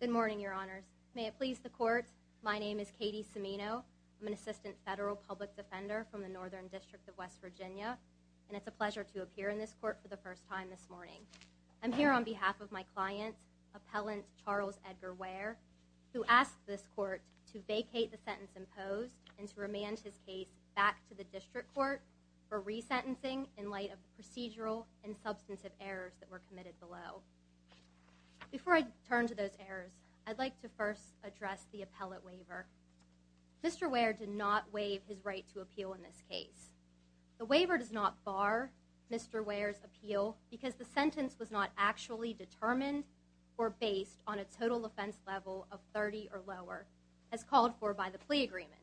Good morning, your honors. May it please the court, my name is Katie Cimino. I'm an assistant federal public defender from the Northern District of West Virginia, and it's a pleasure to appear in this court for the first time this morning. I'm here on behalf of my client, Appellant Charles Edgar Ware, who asked this court to vacate the sentence imposed and to errors that were committed below. Before I turn to those errors, I'd like to first address the appellate waiver. Mr. Ware did not waive his right to appeal in this case. The waiver does not bar Mr. Ware's appeal because the sentence was not actually determined or based on a total offense level of 30 or lower, as called for by the plea agreement.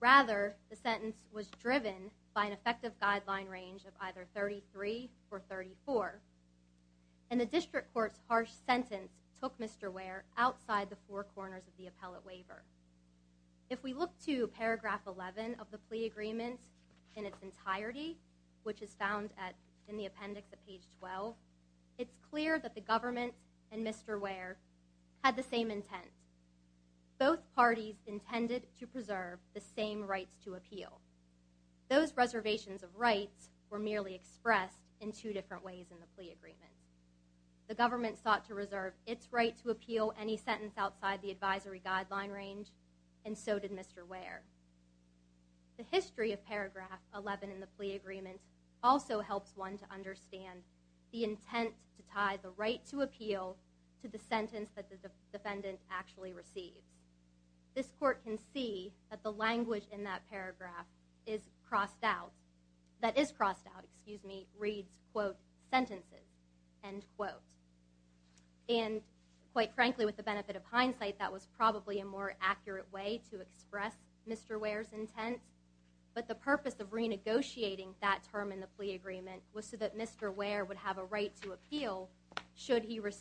Rather, the sentence was driven by an effective guideline range of either 33 or 34, and the district court's harsh sentence took Mr. Ware outside the four corners of the appellate waiver. If we look to paragraph 11 of the plea agreement in its entirety, which is found in the appendix at page 12, it's clear that the government and Mr. Ware had the same intent. Both parties intended to preserve the same rights to appeal. Those reservations of rights were merely expressed in two different ways in the plea agreement. The government sought to reserve its right to appeal any sentence outside the advisory guideline range, and so did Mr. Ware. The history of paragraph 11 in the plea agreement also helps one to understand the intent to that the language in that paragraph is crossed out, that is crossed out, excuse me, reads quote, sentences, end quote. And quite frankly, with the benefit of hindsight, that was probably a more accurate way to express Mr. Ware's intent, but the purpose of renegotiating that term in the plea agreement was so that Mr. Ware would have a right to appeal should he was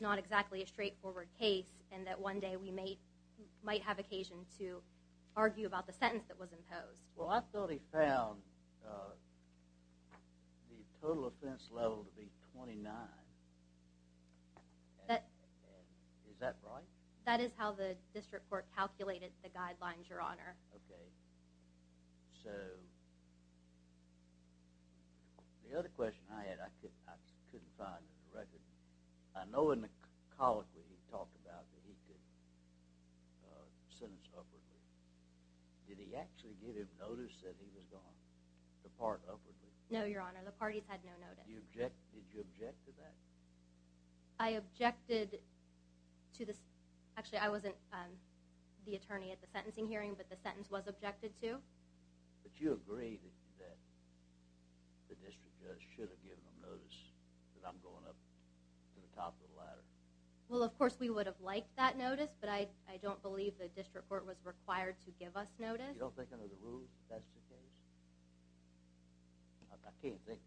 not exactly a straightforward case and that one day we might have occasion to argue about the sentence that was imposed. Well, I thought he found the total offense level to be 29. Is that right? That is how the district court calculated the guidelines, Your Honor. Okay. So the other question I had, I couldn't find in the record, I know in the case of Mr. Ware, you colloquially talked about that he could sentence upwardly. Did he actually give him notice that he was gone, the part upwardly? No, Your Honor, the parties had no notice. Did you object to that? I objected to the, actually I wasn't the attorney at the sentencing hearing, but the sentence was objected to. But you agree that the district court should have given him notice that I'm going up to the top of the ladder? Well, of course we would have liked that notice, but I don't believe the district court was required to give us notice. You don't think under the rule that's the case? I can't think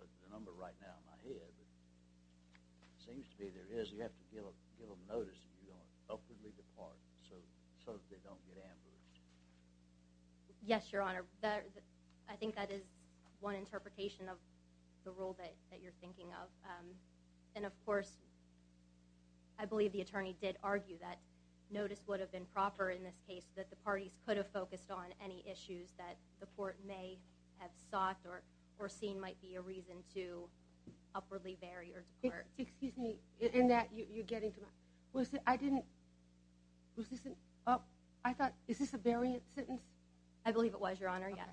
of the number right now in my head, but it seems to be there is. You have to give him notice that you're going upwardly depart so that they don't get ambushed. Yes, Your Honor. I think that is one interpretation of the rule that you're thinking of. And of course, I believe the attorney did argue that notice would have been proper in this case, that the parties could have focused on any issues that the court may have sought or seen might be a reason to upwardly bury or depart. Excuse me, in that you're getting to my, was it, I didn't, was this, I thought, is this a variant sentence? I believe it was, Your Honor. Yes.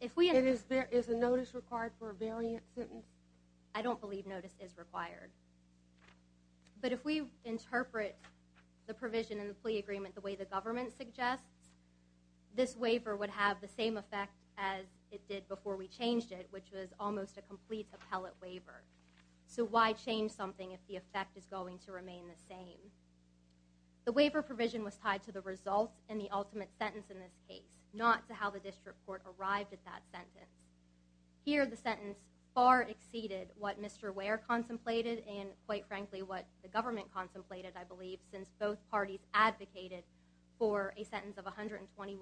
Is a notice required for a variant sentence? I don't believe notice is required. But if we interpret the provision in the plea agreement the way the government suggests, this waiver would have the same effect as it did before we changed it, which was almost a complete appellate waiver. So why change something if the effect is going to remain the same? The waiver provision was tied to the results and the ultimate sentence in this case, not to how the district court arrived at that sentence. Here, the sentence far exceeded what Mr. Ware contemplated and, quite frankly, what the government contemplated, I believe, since both parties advocated for a sentence of 120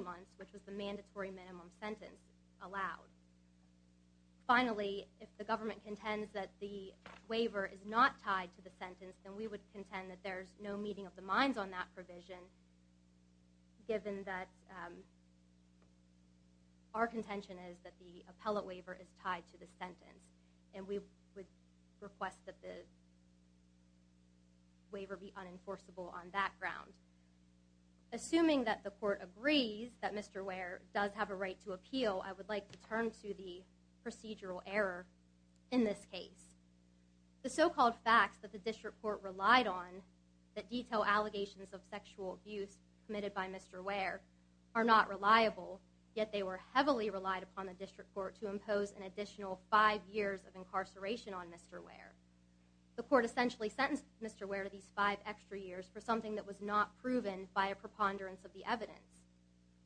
months, which was the mandatory minimum sentence allowed. Finally, if the government contends that the waiver is not tied to the sentence, then we would contend that there's no meeting of the minds on that provision given that our contention is that the appellate waiver is tied to the sentence. And we would request that the waiver be unenforceable on that ground. Assuming that the court agrees that Mr. Ware does have a right to appeal, I would like to turn to the procedural error in this case. The so-called facts that the district court relied on that detail allegations of sexual abuse committed by Mr. Ware are not reliable, yet they were heavily relied upon the district court to impose an additional five years of incarceration on Mr. Ware. The court essentially sentenced Mr. Ware to these five extra years for something that was not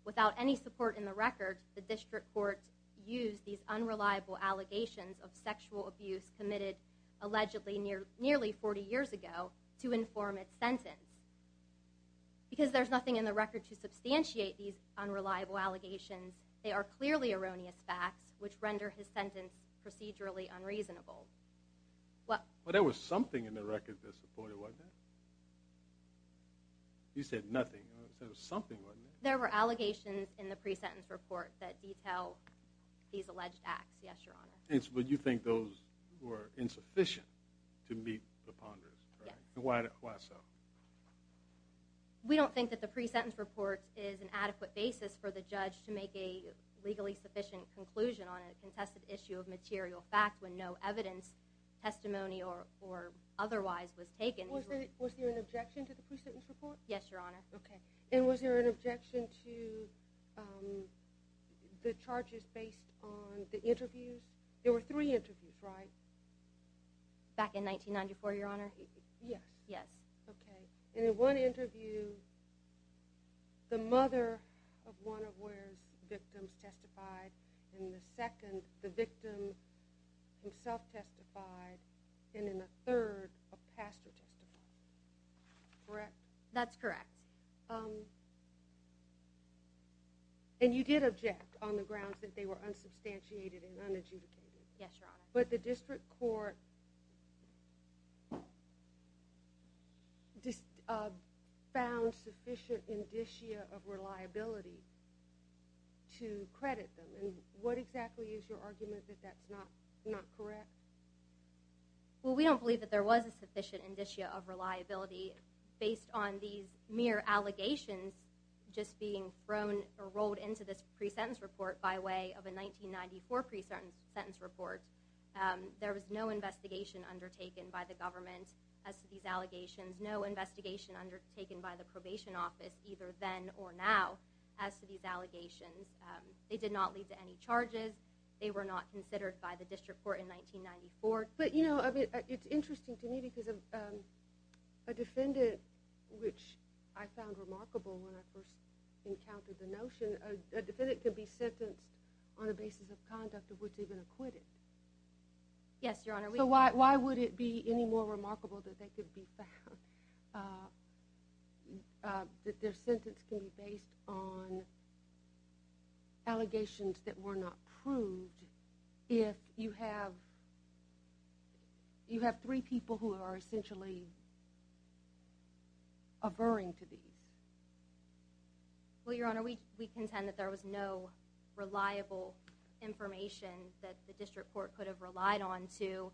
without any support in the record, the district court used these unreliable allegations of sexual abuse committed allegedly nearly 40 years ago to inform its sentence. Because there's nothing in the record to substantiate these unreliable allegations, they are clearly erroneous facts, which render his sentence procedurally unreasonable. But there was something in the record that supported it, wasn't there? You said nothing. There were allegations in the pre-sentence report that detail these alleged acts, yes, your honor. But you think those were insufficient to meet the ponderers? Yes. Why so? We don't think that the pre-sentence report is an adequate basis for the judge to make a legally sufficient conclusion on a contested issue of material fact when no evidence, testimony or otherwise was taken. Was there an objection to the pre-sentence report? Yes, your honor. Okay. And was there an objection to the charges based on the interviews? There were three interviews, right? Back in 1994, your honor. Yes. Yes. Okay. And in one interview, the mother of one of Ware's victims testified, in the second the victim himself testified, and in the third a pastor testified. Correct? That's correct. And you did object on the grounds that they were unsubstantiated and unadjudicated. Yes, your honor. But the district court found sufficient indicia of reliability to credit them. And what exactly is your argument that that's not correct? Well, we don't believe that there was a sufficient indicia of reliability based on these mere allegations just being thrown or rolled into this pre-sentence report by way of a 1994 pre-sentence report. There was no investigation undertaken by the government as to these allegations, no investigation undertaken by the probation office either then or now as to these allegations. They did not lead to any charges. They were not considered by the But you know, it's interesting to me because a defendant, which I found remarkable when I first encountered the notion, a defendant can be sentenced on the basis of conduct of which they've been acquitted. Yes, your honor. So why would it be any more remarkable that they could be found, that their sentence can be based on allegations that were not proved if you have three people who are essentially averring to these? Well, your honor, we contend that there was no reliable information that the district court could have relied on to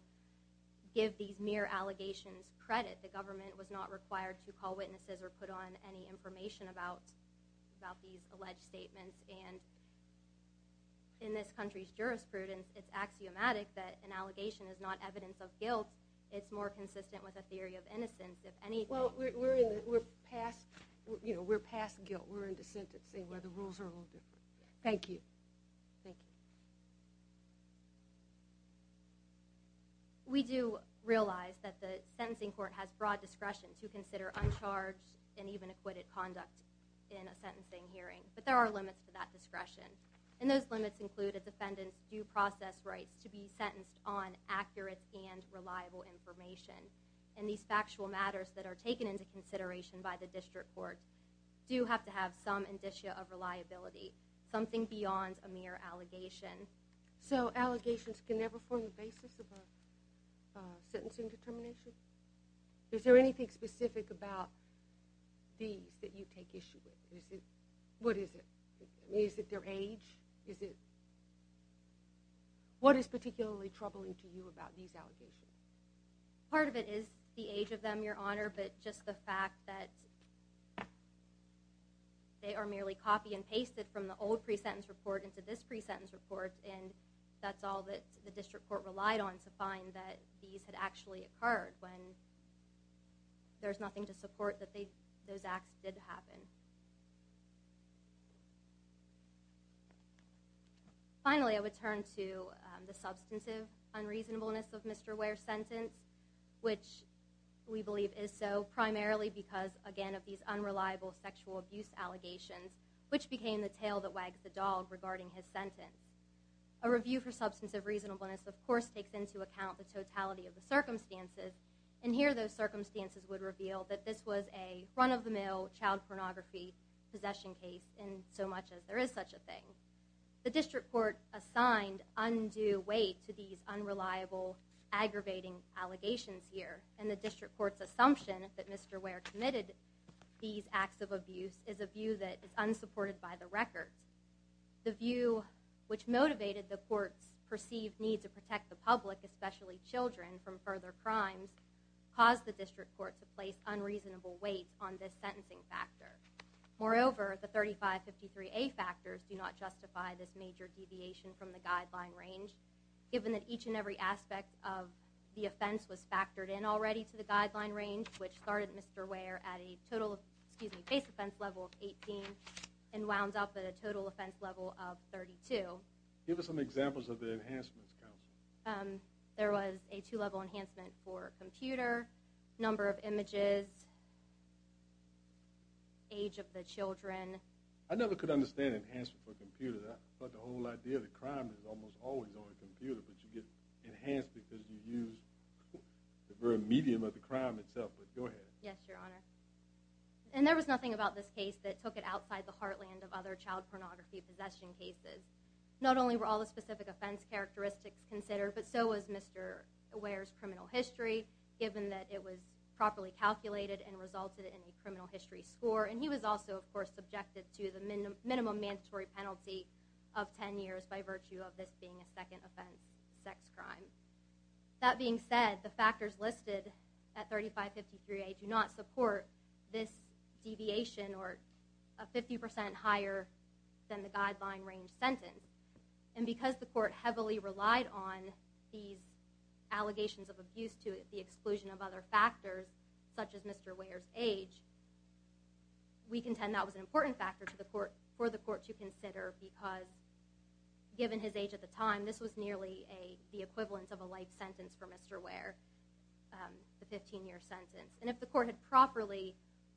give these mere allegations credit. The government was not required to call witnesses or put on any information about these alleged statements. And in this country's jurisprudence, it's axiomatic that an allegation is not evidence of guilt. It's more consistent with a theory of innocence. Well, we're past guilt. We're into sentencing where the rules are a little different. Thank you. Thank you. We do realize that the sentencing court has broad discretion to consider uncharged and even acquitted conduct in a sentencing hearing. But there are limits to that discretion. And those limits include a defendant's due process rights to be sentenced on accurate and reliable information. And these factual matters that are taken into consideration by the district court do have to have some indicia of reliability, something beyond a mere allegation. So allegations can never form the basis of a sentencing determination? Is there anything specific about these that you take issue with? What is it? Is it their age? What is particularly troubling to you about these allegations? Part of it is the age of them, your honor, but just the fact that they are merely copy and pasted from the old pre-sentence report into this pre-sentence report, and that's all that the district court relied on to find that these had actually occurred when there's nothing to support that those acts did happen. Finally, I would turn to the substantive unreasonableness of Mr. Ware's sentence, which we believe is so primarily because, again, of these unreliable sexual abuse allegations, which became the tail that wags the dog regarding his sentence. A review for substantive reasonableness, of course, takes into account the totality of the circumstances, and here those circumstances would reveal that this was a run-of-the-mill child pornography possession case in so much as there is such a thing. The district court assigned undue weight to these unreliable aggravating allegations here, and the district court's assumption that Mr. Ware committed these acts of abuse is a view that is unsupported by the record. The view which motivated the court's perceived need to protect the public, especially children, from further crimes caused the district court to place unreasonable weight on this sentencing factor. Moreover, the 3553A factors do not justify this major deviation from the guideline range, given that each and every aspect of the offense was factored in already to the guideline range, which started Mr. Ware at a base offense level of 18 and wound up at a total offense level of 32. Give us some examples of the enhancements, counsel. There was a two-level enhancement for computer, number of images, age of the children. I never could understand enhancement for computers. I thought the whole idea of the crime was almost always on a computer, but you get enhanced because you use the very medium of the crime itself. But go ahead. Yes, Your Honor. And there was nothing about this case that took it outside the heartland of other child pornography possession cases. Not only were all the specific offense characteristics considered, but so was Mr. Ware's criminal history, given that it was properly calculated and resulted in a criminal history score. And he was also, of course, subjected to the sex crime. That being said, the factors listed at 3553A do not support this deviation or a 50% higher than the guideline range sentence. And because the court heavily relied on these allegations of abuse to the exclusion of other factors, such as Mr. Ware's age, we contend that was an important factor for the court to consider because, given his age at the time, this was nearly the equivalent of a life sentence for Mr. Ware, the 15-year sentence. And if the court had properly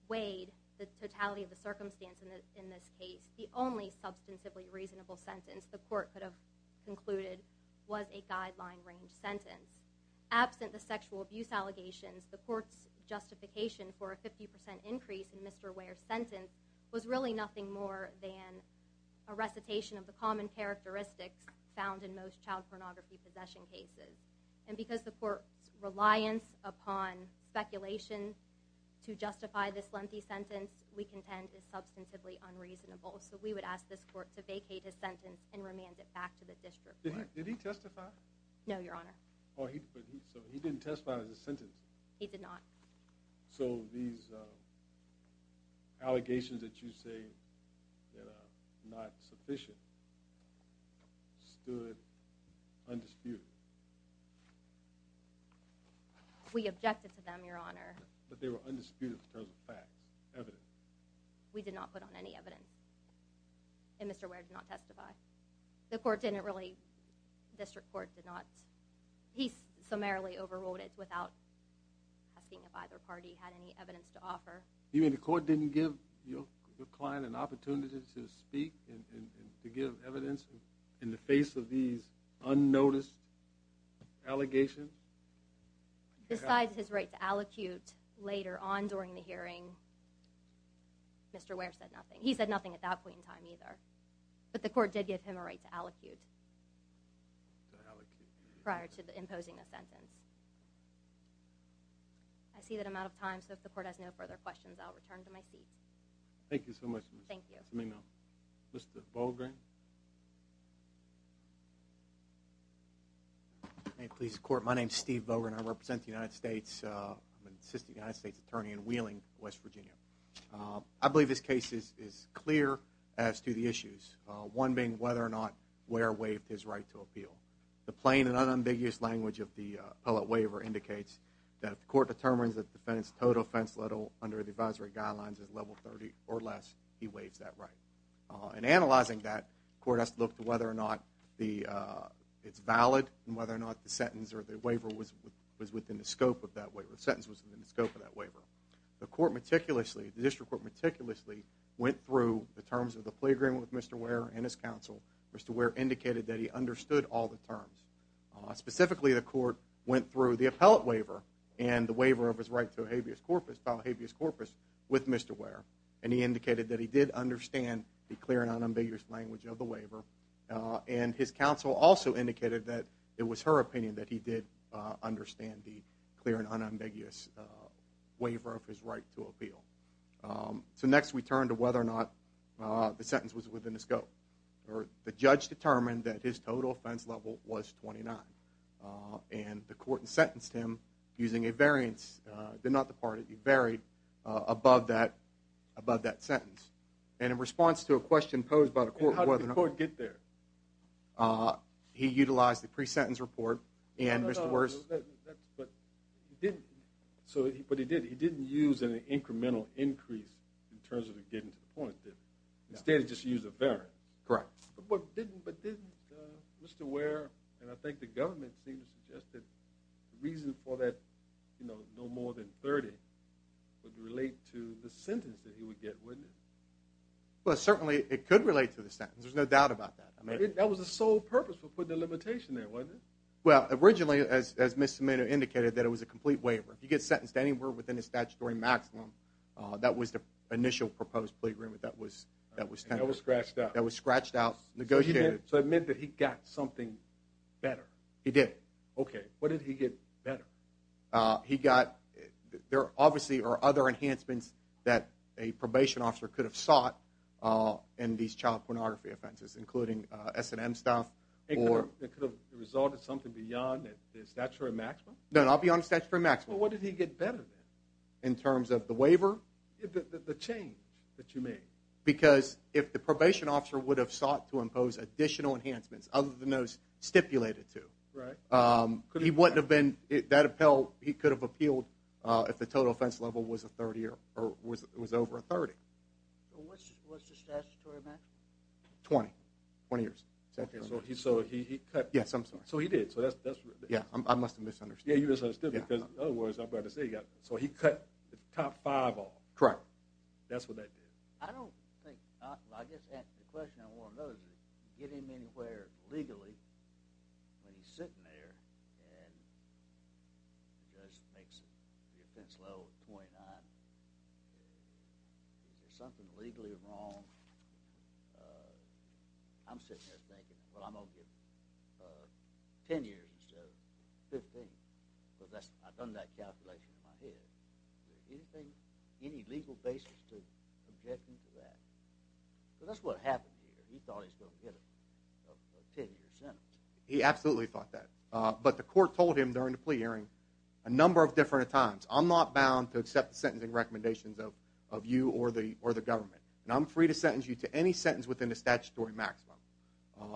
weighed the totality of the circumstance in this case, the only substantively reasonable sentence the court could have concluded was a guideline range sentence. Absent the sexual abuse allegations, the court's justification for a 50% increase in Mr. Ware's sentence was really nothing more than a recitation of the common characteristics found in most child pornography possession cases. And because the court's reliance upon speculation to justify this lengthy sentence, we contend is substantively unreasonable. So we would ask this court to vacate his sentence and remand it back to the district court. Did he testify? No, Your Honor. He didn't testify on his sentence? He did not. So these allegations that you say are not sufficient stood undisputed? We objected to them, Your Honor. But they were undisputed in terms of facts, evidence. We did not put on any evidence. And Mr. Ware did not testify. The court didn't really, the district court did not, he summarily overruled it without asking if either party had any evidence to offer. You mean the court didn't give your client an opportunity to speak and to give evidence in the face of these unnoticed allegations? Besides his right to allocute later on during the hearing, Mr. Ware said nothing. He said nothing at that point in time, either. But the court did give him a right to allocute prior to imposing a sentence. I see that I'm out of time, so if the court has no further questions, I'll return to my seat. Thank you so much. Thank you. Mr. Volgren? My name is Steve Volgren. I represent the United States. I'm an assistant United States attorney in Wheeling, West Virginia. I believe this case is clear as to the issues. One being whether or not Ware waived his right to appeal. The plain and unambiguous language of the appellate waiver indicates that if the court determines that the defendant's total offense under the advisory guidelines is level 30 or less, he waives that right. In analyzing that, the court has to look to whether or not it's valid, and whether or not the sentence or the waiver was within the scope of that waiver. The sentence was within the scope of that waiver. The court meticulously, the district court meticulously, went through the terms of the plea agreement with Mr. Ware and his counsel. Mr. Ware indicated that he understood all the terms. Specifically, the court went through the appellate waiver and the waiver of his right to a habeas corpus with Mr. Ware, and he indicated that he did understand the clear and unambiguous language of the waiver. And his counsel also indicated that it was her opinion that he did understand the clear and unambiguous waiver of his right to appeal. So next we turn to whether or not the sentence was within the scope. The judge determined that his total offense level was 29, and the court sentenced him using a variance above that sentence. And in response to a question posed by the court whether or not he utilized the pre-sentence report and Mr. Ware's... But he didn't. But he did. He didn't use an incremental increase in terms of getting to the point, did he? Instead he just used a variance. But didn't Mr. Ware, and I think the government seemed to suggest that the reason for that, you know, no more than 30, would relate to the sentence that he would get, wouldn't it? Well, certainly it could relate to the sentence. There's no doubt about that. That was the sole purpose for putting a limitation there, wasn't it? Well, originally, as Ms. Zimino indicated, that it was a complete waiver. If you get sentenced to anywhere within the statutory maximum, that was the initial proposed plea agreement that was tendered. That was scratched out. That was scratched out, negotiated. So it meant that he got something better. He did. Okay. What did he get better? He got, there obviously are other enhancements that a probation officer could have sought in these child pornography offenses, including S&M stuff. It could have resulted in something beyond the statutory maximum? No, not beyond the statutory maximum. Well, what did he get better then? In terms of the waiver? The change that you mean. Because if the probation officer would have sought to impose additional enhancements other than those stipulated to. Right. He wouldn't have been, that appeal, he could have appealed if the total offense level was over a 30. What's the statutory maximum? 20. 20 years. So he cut. Yes, I'm sorry. So he did. Yeah, I must have misunderstood. Yeah, you misunderstood. Because in other words, I'm about to say he got, so he cut the top five off. Correct. That's what that did. I don't think, I guess the question I want to know is, did he get him anywhere legally when he's sitting there and he just makes the offense level 29. Is there something legally wrong? I'm sitting there thinking, well, I'm going to give him 10 years instead of 15. I've done that calculation in my head. Is there anything, any legal basis to object him to that? So that's what happened here. He thought he was going to get a 10-year sentence. He absolutely thought that. But the court told him during the plea hearing a number of different times, I'm not bound to accept the sentencing recommendations of you or the government, and I'm free to sentence you to any sentence within the statutory maximum.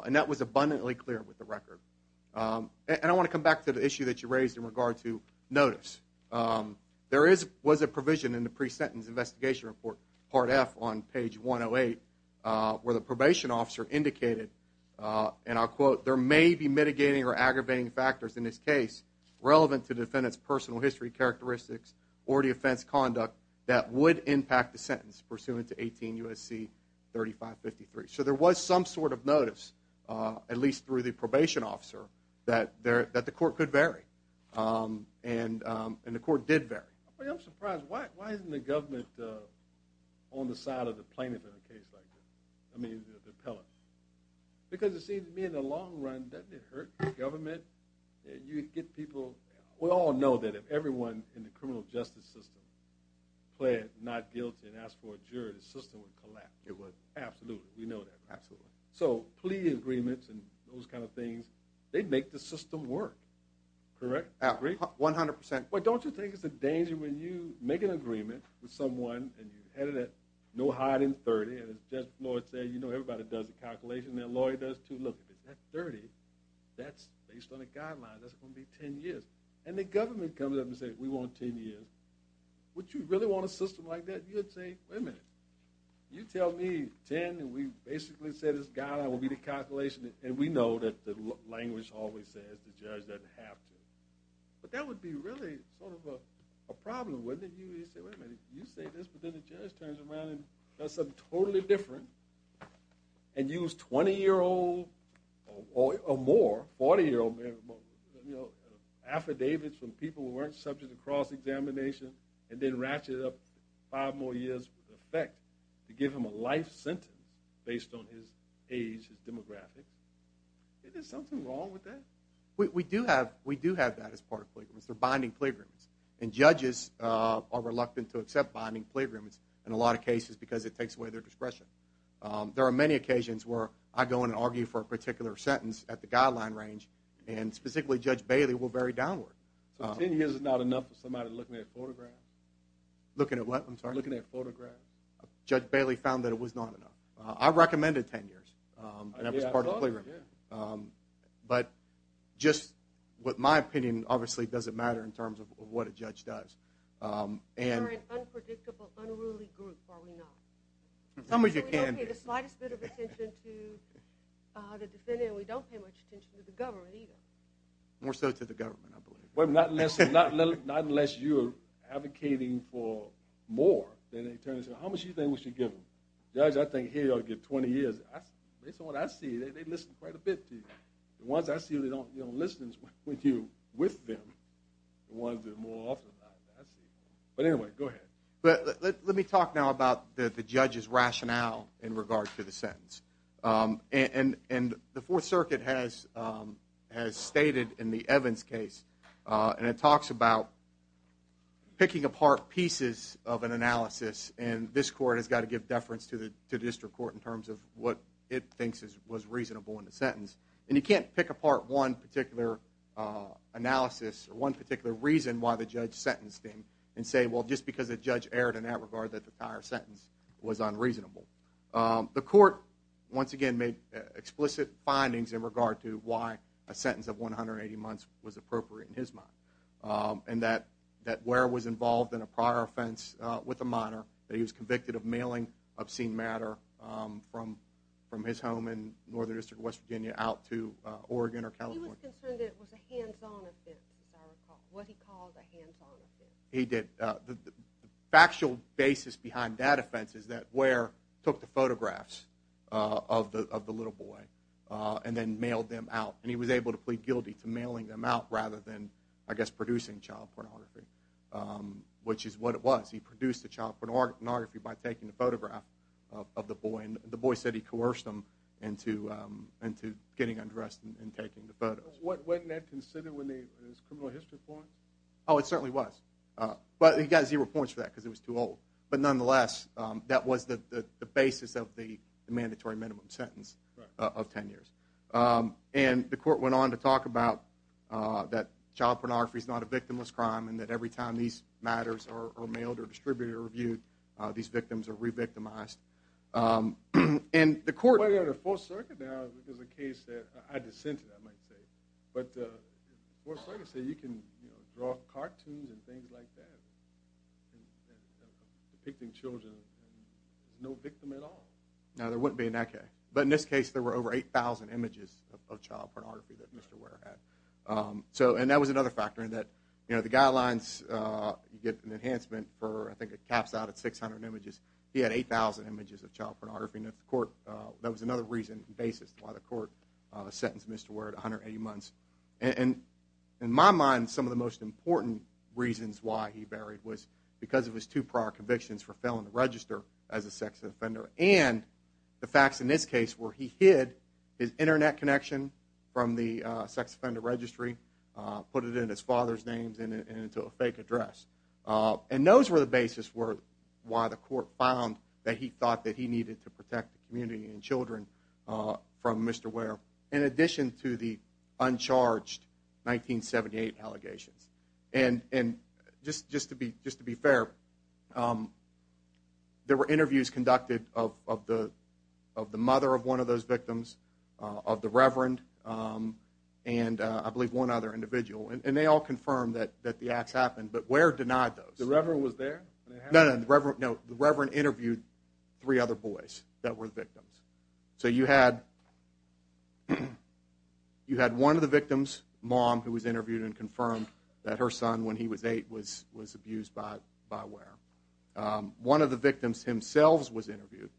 And that was abundantly clear with the record. And I want to come back to the issue that you raised in regard to notice. There was a provision in the pre-sentence investigation report, Part F, on page 108 where the probation officer indicated, and I'll quote, there may be mitigating or aggravating factors in this case relevant to the defendant's personal history characteristics or the offense conduct that would impact the sentence pursuant to 18 U.S.C. 3553. So there was some sort of notice, at least through the probation officer, that the court could vary. And the court did vary. I'm surprised. Why isn't the government on the side of the plaintiff in a case like this, I mean the appellate? Because it seems to me in the long run, doesn't it hurt the government? You get people, we all know that if everyone in the criminal justice system pled not guilty and asked for a jury, the system would collapse. It would. Absolutely. We know that. Absolutely. So plea agreements and those kind of things, they make the system work. Correct? Agreed? 100%. But don't you think it's a danger when you make an agreement with someone and you're headed at no higher than 30, and as Judge Floyd said, you know everybody does a calculation. That lawyer does, too. Look, if it's at 30, that's based on a guideline. That's going to be 10 years. And the government comes up and says, We want 10 years. Would you really want a system like that? You would say, Wait a minute. You tell me 10, and we basically say this guideline will be the calculation, and we know that the language always says the judge doesn't have to. But that would be really sort of a problem, wouldn't it? You say this, but then the judge turns around and does something totally different and use 20-year-old or more, 40-year-old, affidavits from people who weren't subject to cross-examination and then ratchet it up five more years with effect to give him a life sentence based on his age, his demographic. Isn't there something wrong with that? We do have that as part of plea agreements. They're binding plea agreements. And judges are reluctant to accept binding plea agreements in a lot of cases because it takes away their discretion. There are many occasions where I go in and argue for a particular sentence at the guideline range, and specifically Judge Bailey will vary downward. So 10 years is not enough for somebody looking at photographs? Looking at what? I'm sorry. Looking at photographs. Judge Bailey found that it was not enough. I recommended 10 years, and that was part of the plea agreement. But just what my opinion, obviously, doesn't matter in terms of what a judge does. We're an unpredictable, unruly group, are we not? We don't pay the slightest bit of attention to the defendant, and we don't pay much attention to the government either. More so to the government, I believe. Not unless you're advocating for more. Then they turn and say, how much do you think we should give him? Judge, I think he ought to get 20 years. Based on what I see, they listen quite a bit to you. The ones I see that don't listen to you with them are the ones that are more often like that. But anyway, go ahead. Let me talk now about the judge's rationale in regard to the sentence. The Fourth Circuit has stated in the Evans case, and it talks about picking apart pieces of an analysis, and this court has got to give deference to the district court in terms of what it thinks was reasonable in the sentence. And you can't pick apart one particular analysis or one particular reason why the judge sentenced him and say, well, just because the judge erred in that regard that the entire sentence was unreasonable. The court, once again, made explicit findings in regard to why a sentence of 180 months was appropriate in his mind, and that Ware was involved in a prior offense with a minor, that he was convicted of mailing obscene matter from his home in Northern District of West Virginia out to Oregon or California. He was concerned that it was a hands-on offense, as I recall. What he called a hands-on offense. He did. The factual basis behind that offense is that Ware took the photographs of the little boy and then mailed them out, and he was able to plead guilty to mailing them out rather than, I guess, producing child pornography, which is what it was. He produced the child pornography by taking a photograph of the boy, and the boy said he coerced him into getting undressed and taking the photos. Wasn't that considered one of those criminal history points? Oh, it certainly was, but he got zero points for that because it was too old. But nonetheless, that was the basis of the mandatory minimum sentence of 10 years. And the court went on to talk about that child pornography is not a victimless crime and that every time these matters are mailed or distributed or reviewed, these victims are re-victimized. Well, you know, the Fourth Circuit now has a case that I dissented, I might say. But the Fourth Circuit said you can draw cartoons and things like that depicting children, and there's no victim at all. No, there wouldn't be in that case. But in this case, there were over 8,000 images of child pornography that Mr. Ware had. And that was another factor in that the guidelines, you get an enhancement for, I think it caps out at 600 images. He had 8,000 images of child pornography, and that was another reason and basis why the court sentenced Mr. Ware to 180 months. And in my mind, some of the most important reasons why he varied was because of his two prior convictions for failing to register as a sex offender and the facts in this case where he hid his Internet connection from the sex offender registry, put it in his father's name and into a fake address. And those were the basis why the court found that he thought that he needed to protect the community and children from Mr. Ware in addition to the uncharged 1978 allegations. And just to be fair, there were interviews conducted of the mother of one of those victims, of the reverend, and I believe one other individual, and they all confirmed that the acts happened, but Ware denied those. The reverend was there? No, the reverend interviewed three other boys that were victims. So you had one of the victims' mom who was interviewed and confirmed that her son, when he was 8, was abused by Ware. One of the victims himself was interviewed,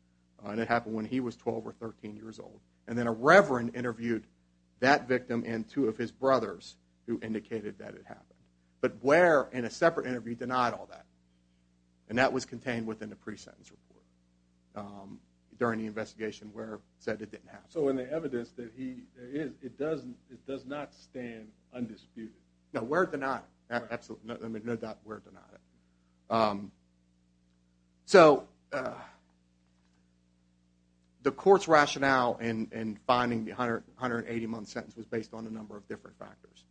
and it happened when he was 12 or 13 years old. And then a reverend interviewed that victim and two of his brothers who indicated that it happened. But Ware, in a separate interview, denied all that, and that was contained within the pre-sentence report during the investigation. Ware said it didn't happen. So in the evidence, it does not stand undisputed. No, Ware denied it. No doubt Ware denied it. The court's rationale in finding the 180-month sentence was based on a number of different factors,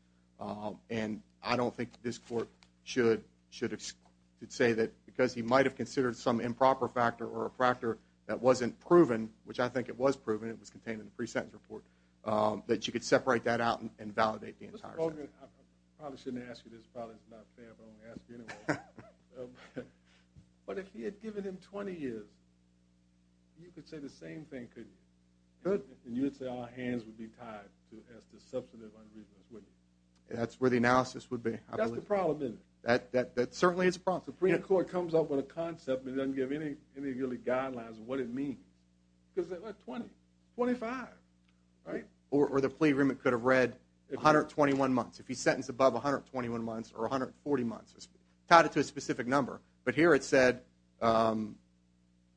and I don't think this court should say that because he might have considered some improper factor or a factor that wasn't proven, which I think it was proven, it was contained in the pre-sentence report, that you could separate that out and validate the entire sentence. Mr. Colgan, I probably shouldn't ask you this. It's probably not fair, but I'm going to ask you anyway. But if he had given him 20 years, you could say the same thing, couldn't you? Could. And you would say our hands would be tied as to substantive unreasonable, wouldn't you? That's where the analysis would be, I believe. That's the problem, isn't it? That certainly is a problem. The Supreme Court comes up with a concept and doesn't give any really guidelines of what it means. Because they're like, 20, 25, right? Or the plea agreement could have read 121 months. If he's sentenced above 121 months or 140 months, it's tied to a specific number. But here it said—are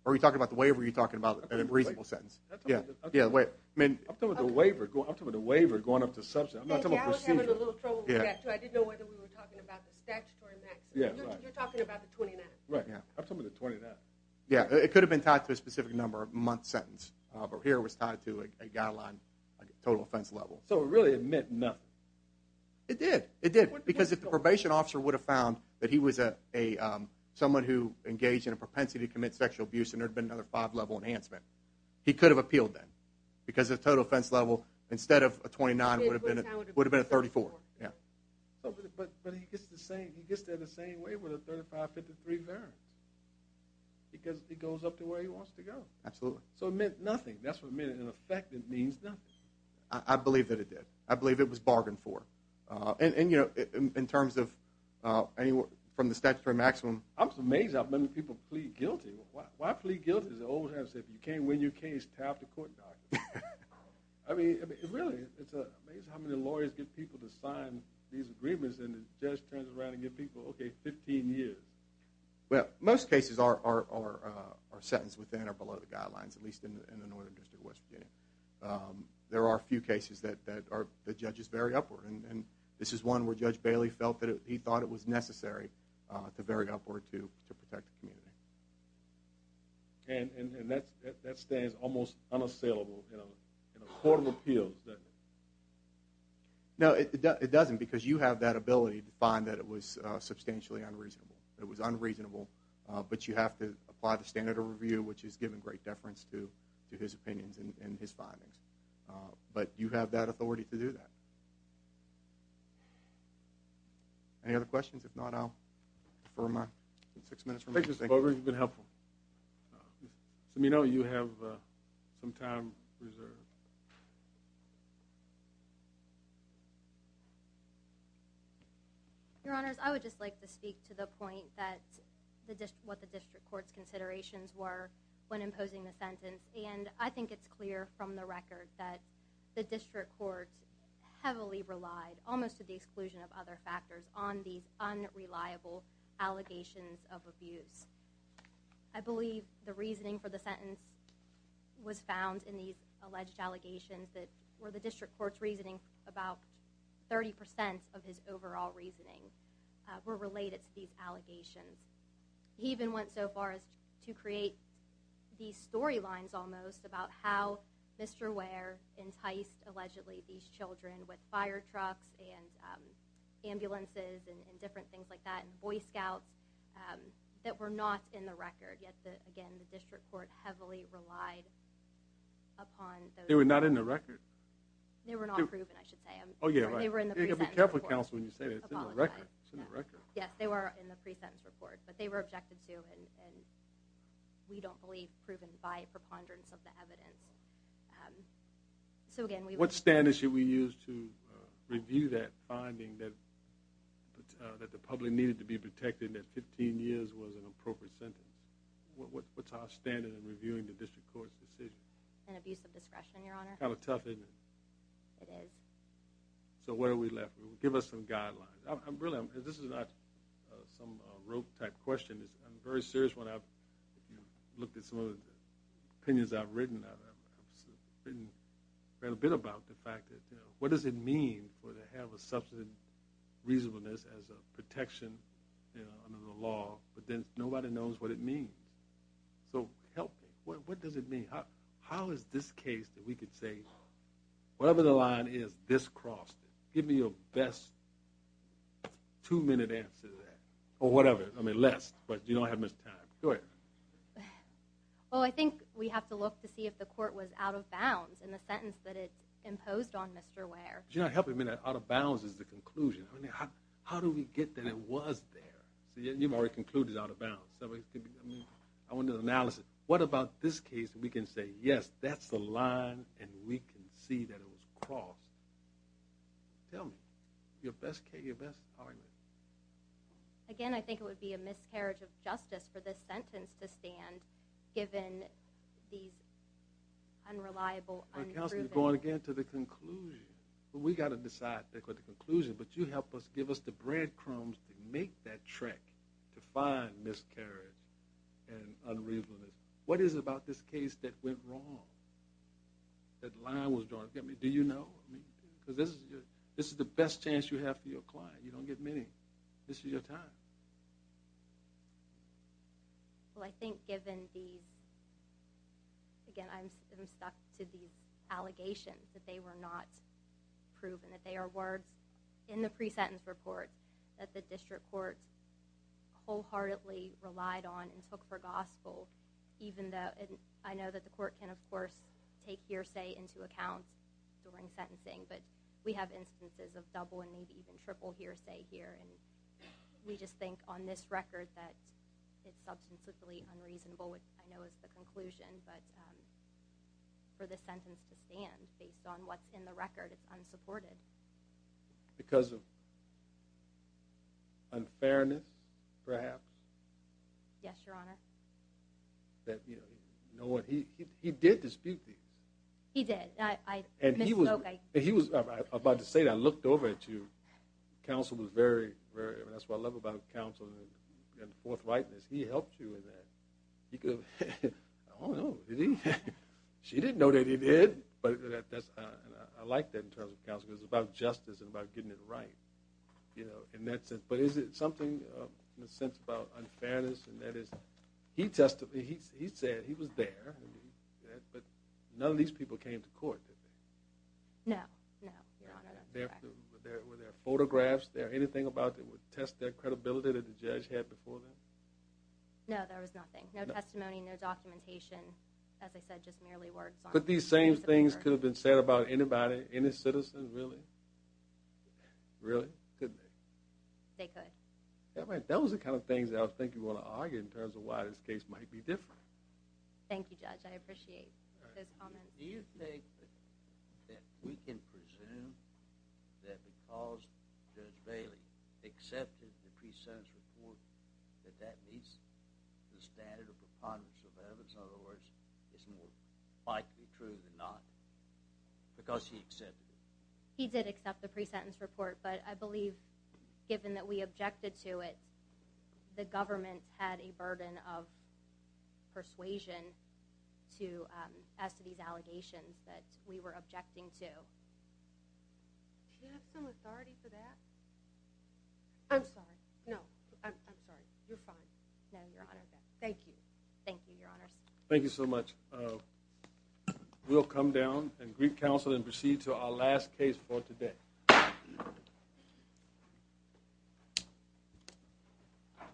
we talking about the waiver, or are you talking about a reasonable sentence? I'm talking about the waiver going up to substantive. I'm not talking about procedure. I was having a little trouble with that, too. I didn't know whether we were talking about the statutory maximum. You're talking about the 29th. Right, yeah. I'm talking about the 29th. Yeah, it could have been tied to a specific number of months' sentence. But here it was tied to a guideline, a total offense level. So it really meant nothing. It did, it did. Because if the probation officer would have found that he was someone who engaged in a propensity to commit sexual abuse and there had been another five-level enhancement, he could have appealed then. Because the total offense level, instead of a 29, would have been a 34. But he gets there the same way with a 35, 53 variance. Because it goes up to where he wants to go. Absolutely. So it meant nothing. That's what it meant. In effect, it means nothing. I believe that it did. I believe it was bargained for. And, you know, in terms of from the statutory maximum— I'm just amazed how many people plead guilty. Why plead guilty? As the old saying goes, if you can't win your case, tap the court documents. I mean, really, it's amazing how many lawyers get people to sign these agreements and the judge turns around and gives people, okay, 15 years. Well, most cases are sentenced within or below the guidelines, at least in the Northern District of West Virginia. There are a few cases that judges vary upward. And this is one where Judge Bailey felt that he thought it was necessary to vary upward to protect the community. And that stands almost unassailable in a court of appeals, doesn't it? No, it doesn't, because you have that ability to find that it was substantially unreasonable. It was unreasonable, but you have to apply the standard of review, which has given great deference to his opinions and his findings. But you have that authority to do that. Any other questions? If not, I'll defer my six minutes. Thank you, Mr. Bogers. You've been helpful. Ms. Amino, you have some time reserved. Your Honors, I would just like to speak to the point that— what the district court's considerations were when imposing the sentence. And I think it's clear from the record that the district court heavily relied, almost to the exclusion of other factors, on these unreliable allegations of abuse. I believe the reasoning for the sentence was found in these alleged allegations that, for the district court's reasoning, about 30% of his overall reasoning were related to these allegations. He even went so far as to create these storylines, almost, about how Mr. Ware enticed, allegedly, these children with fire trucks and ambulances and different things like that, and Boy Scouts, that were not in the record. Yet, again, the district court heavily relied upon those— They were not in the record. They were not proven, I should say. Oh, yeah, right. They were in the pre-sentence report. You've got to be careful, Counsel, when you say that. It's in the record. It's in the record. Yes, they were in the pre-sentence report, but they were objected to, and we don't believe proven by preponderance of the evidence. So, again, we— What standard should we use to review that finding that the public needed to be protected and that 15 years was an appropriate sentence? What's our standard in reviewing the district court's decision? An abuse of discretion, Your Honor. Kind of tough, isn't it? It is. So where are we left? Give us some guidelines. Really, this is not some rogue-type question. I'm very serious when I've looked at some of the opinions I've written. I've written quite a bit about the fact that, you know, what does it mean to have a substantive reasonableness as a protection under the law, but then nobody knows what it means. So help me. What does it mean? How is this case that we could say, whatever the line is, this crossed it. Give me your best two-minute answer to that. Or whatever. I mean, less, but you don't have much time. Go ahead. Well, I think we have to look to see if the court was out of bounds in the sentence that it imposed on Mr. Ware. Do you know what I mean? Out of bounds is the conclusion. How do we get that it was there? You've already concluded out of bounds. I want an analysis. What about this case that we can say, yes, that's the line, and we can see that it was crossed. Tell me. Your best argument. Again, I think it would be a miscarriage of justice for this sentence to stand given these unreliable, unproven. Counsel, you're going again to the conclusion. We've got to decide the conclusion, but you help us, give us the breadcrumbs to make that trek to find miscarriage and unreasonableness. What is it about this case that went wrong, that line was drawn? Do you know? Because this is the best chance you have for your client. You don't get many. This is your time. Well, I think given these, again, I'm stuck to these allegations, that they were not proven, that they are words in the pre-sentence report that the district court wholeheartedly relied on and took for gospel. I know that the court can, of course, take hearsay into account during sentencing, but we have instances of double and maybe even triple hearsay here, and we just think on this record that it's substantively unreasonable, which I know is the conclusion. But for the sentence to stand based on what's in the record, it's unsupported. Because of unfairness, perhaps? Yes, Your Honor. He did dispute these. He did. He was about to say that. I looked over at you. Counsel was very, very, that's what I love about counsel, forthrightness. He helped you with that. I don't know. She didn't know that he did. I like that in terms of counsel because it's about justice and about getting it right. But is it something in a sense about unfairness? He testified. He said he was there, but none of these people came to court, did they? No, no, Your Honor. Were there photographs there? Anything about it that would test their credibility that the judge had before them? No, there was nothing. No testimony, no documentation. As I said, just merely words on paper. But these same things could have been said about anybody, any citizen, really? Really, couldn't they? They could. That was the kind of things that I was thinking you want to argue in terms of why this case might be different. Thank you, Judge. I appreciate this comment. Do you think that we can presume that because Judge Bailey accepted the pre-sentence report that that meets the standard of preponderance of evidence? In other words, it's more likely true than not because he accepted it. He did accept the pre-sentence report, but I believe given that we objected to it, the government had a burden of persuasion as to these allegations that we were objecting to. Do you have some authority for that? I'm sorry. No. I'm sorry. You're fine. No, Your Honor. Thank you. Thank you, Your Honors. Thank you so much. We'll come down and greet counsel and proceed to our last case for today.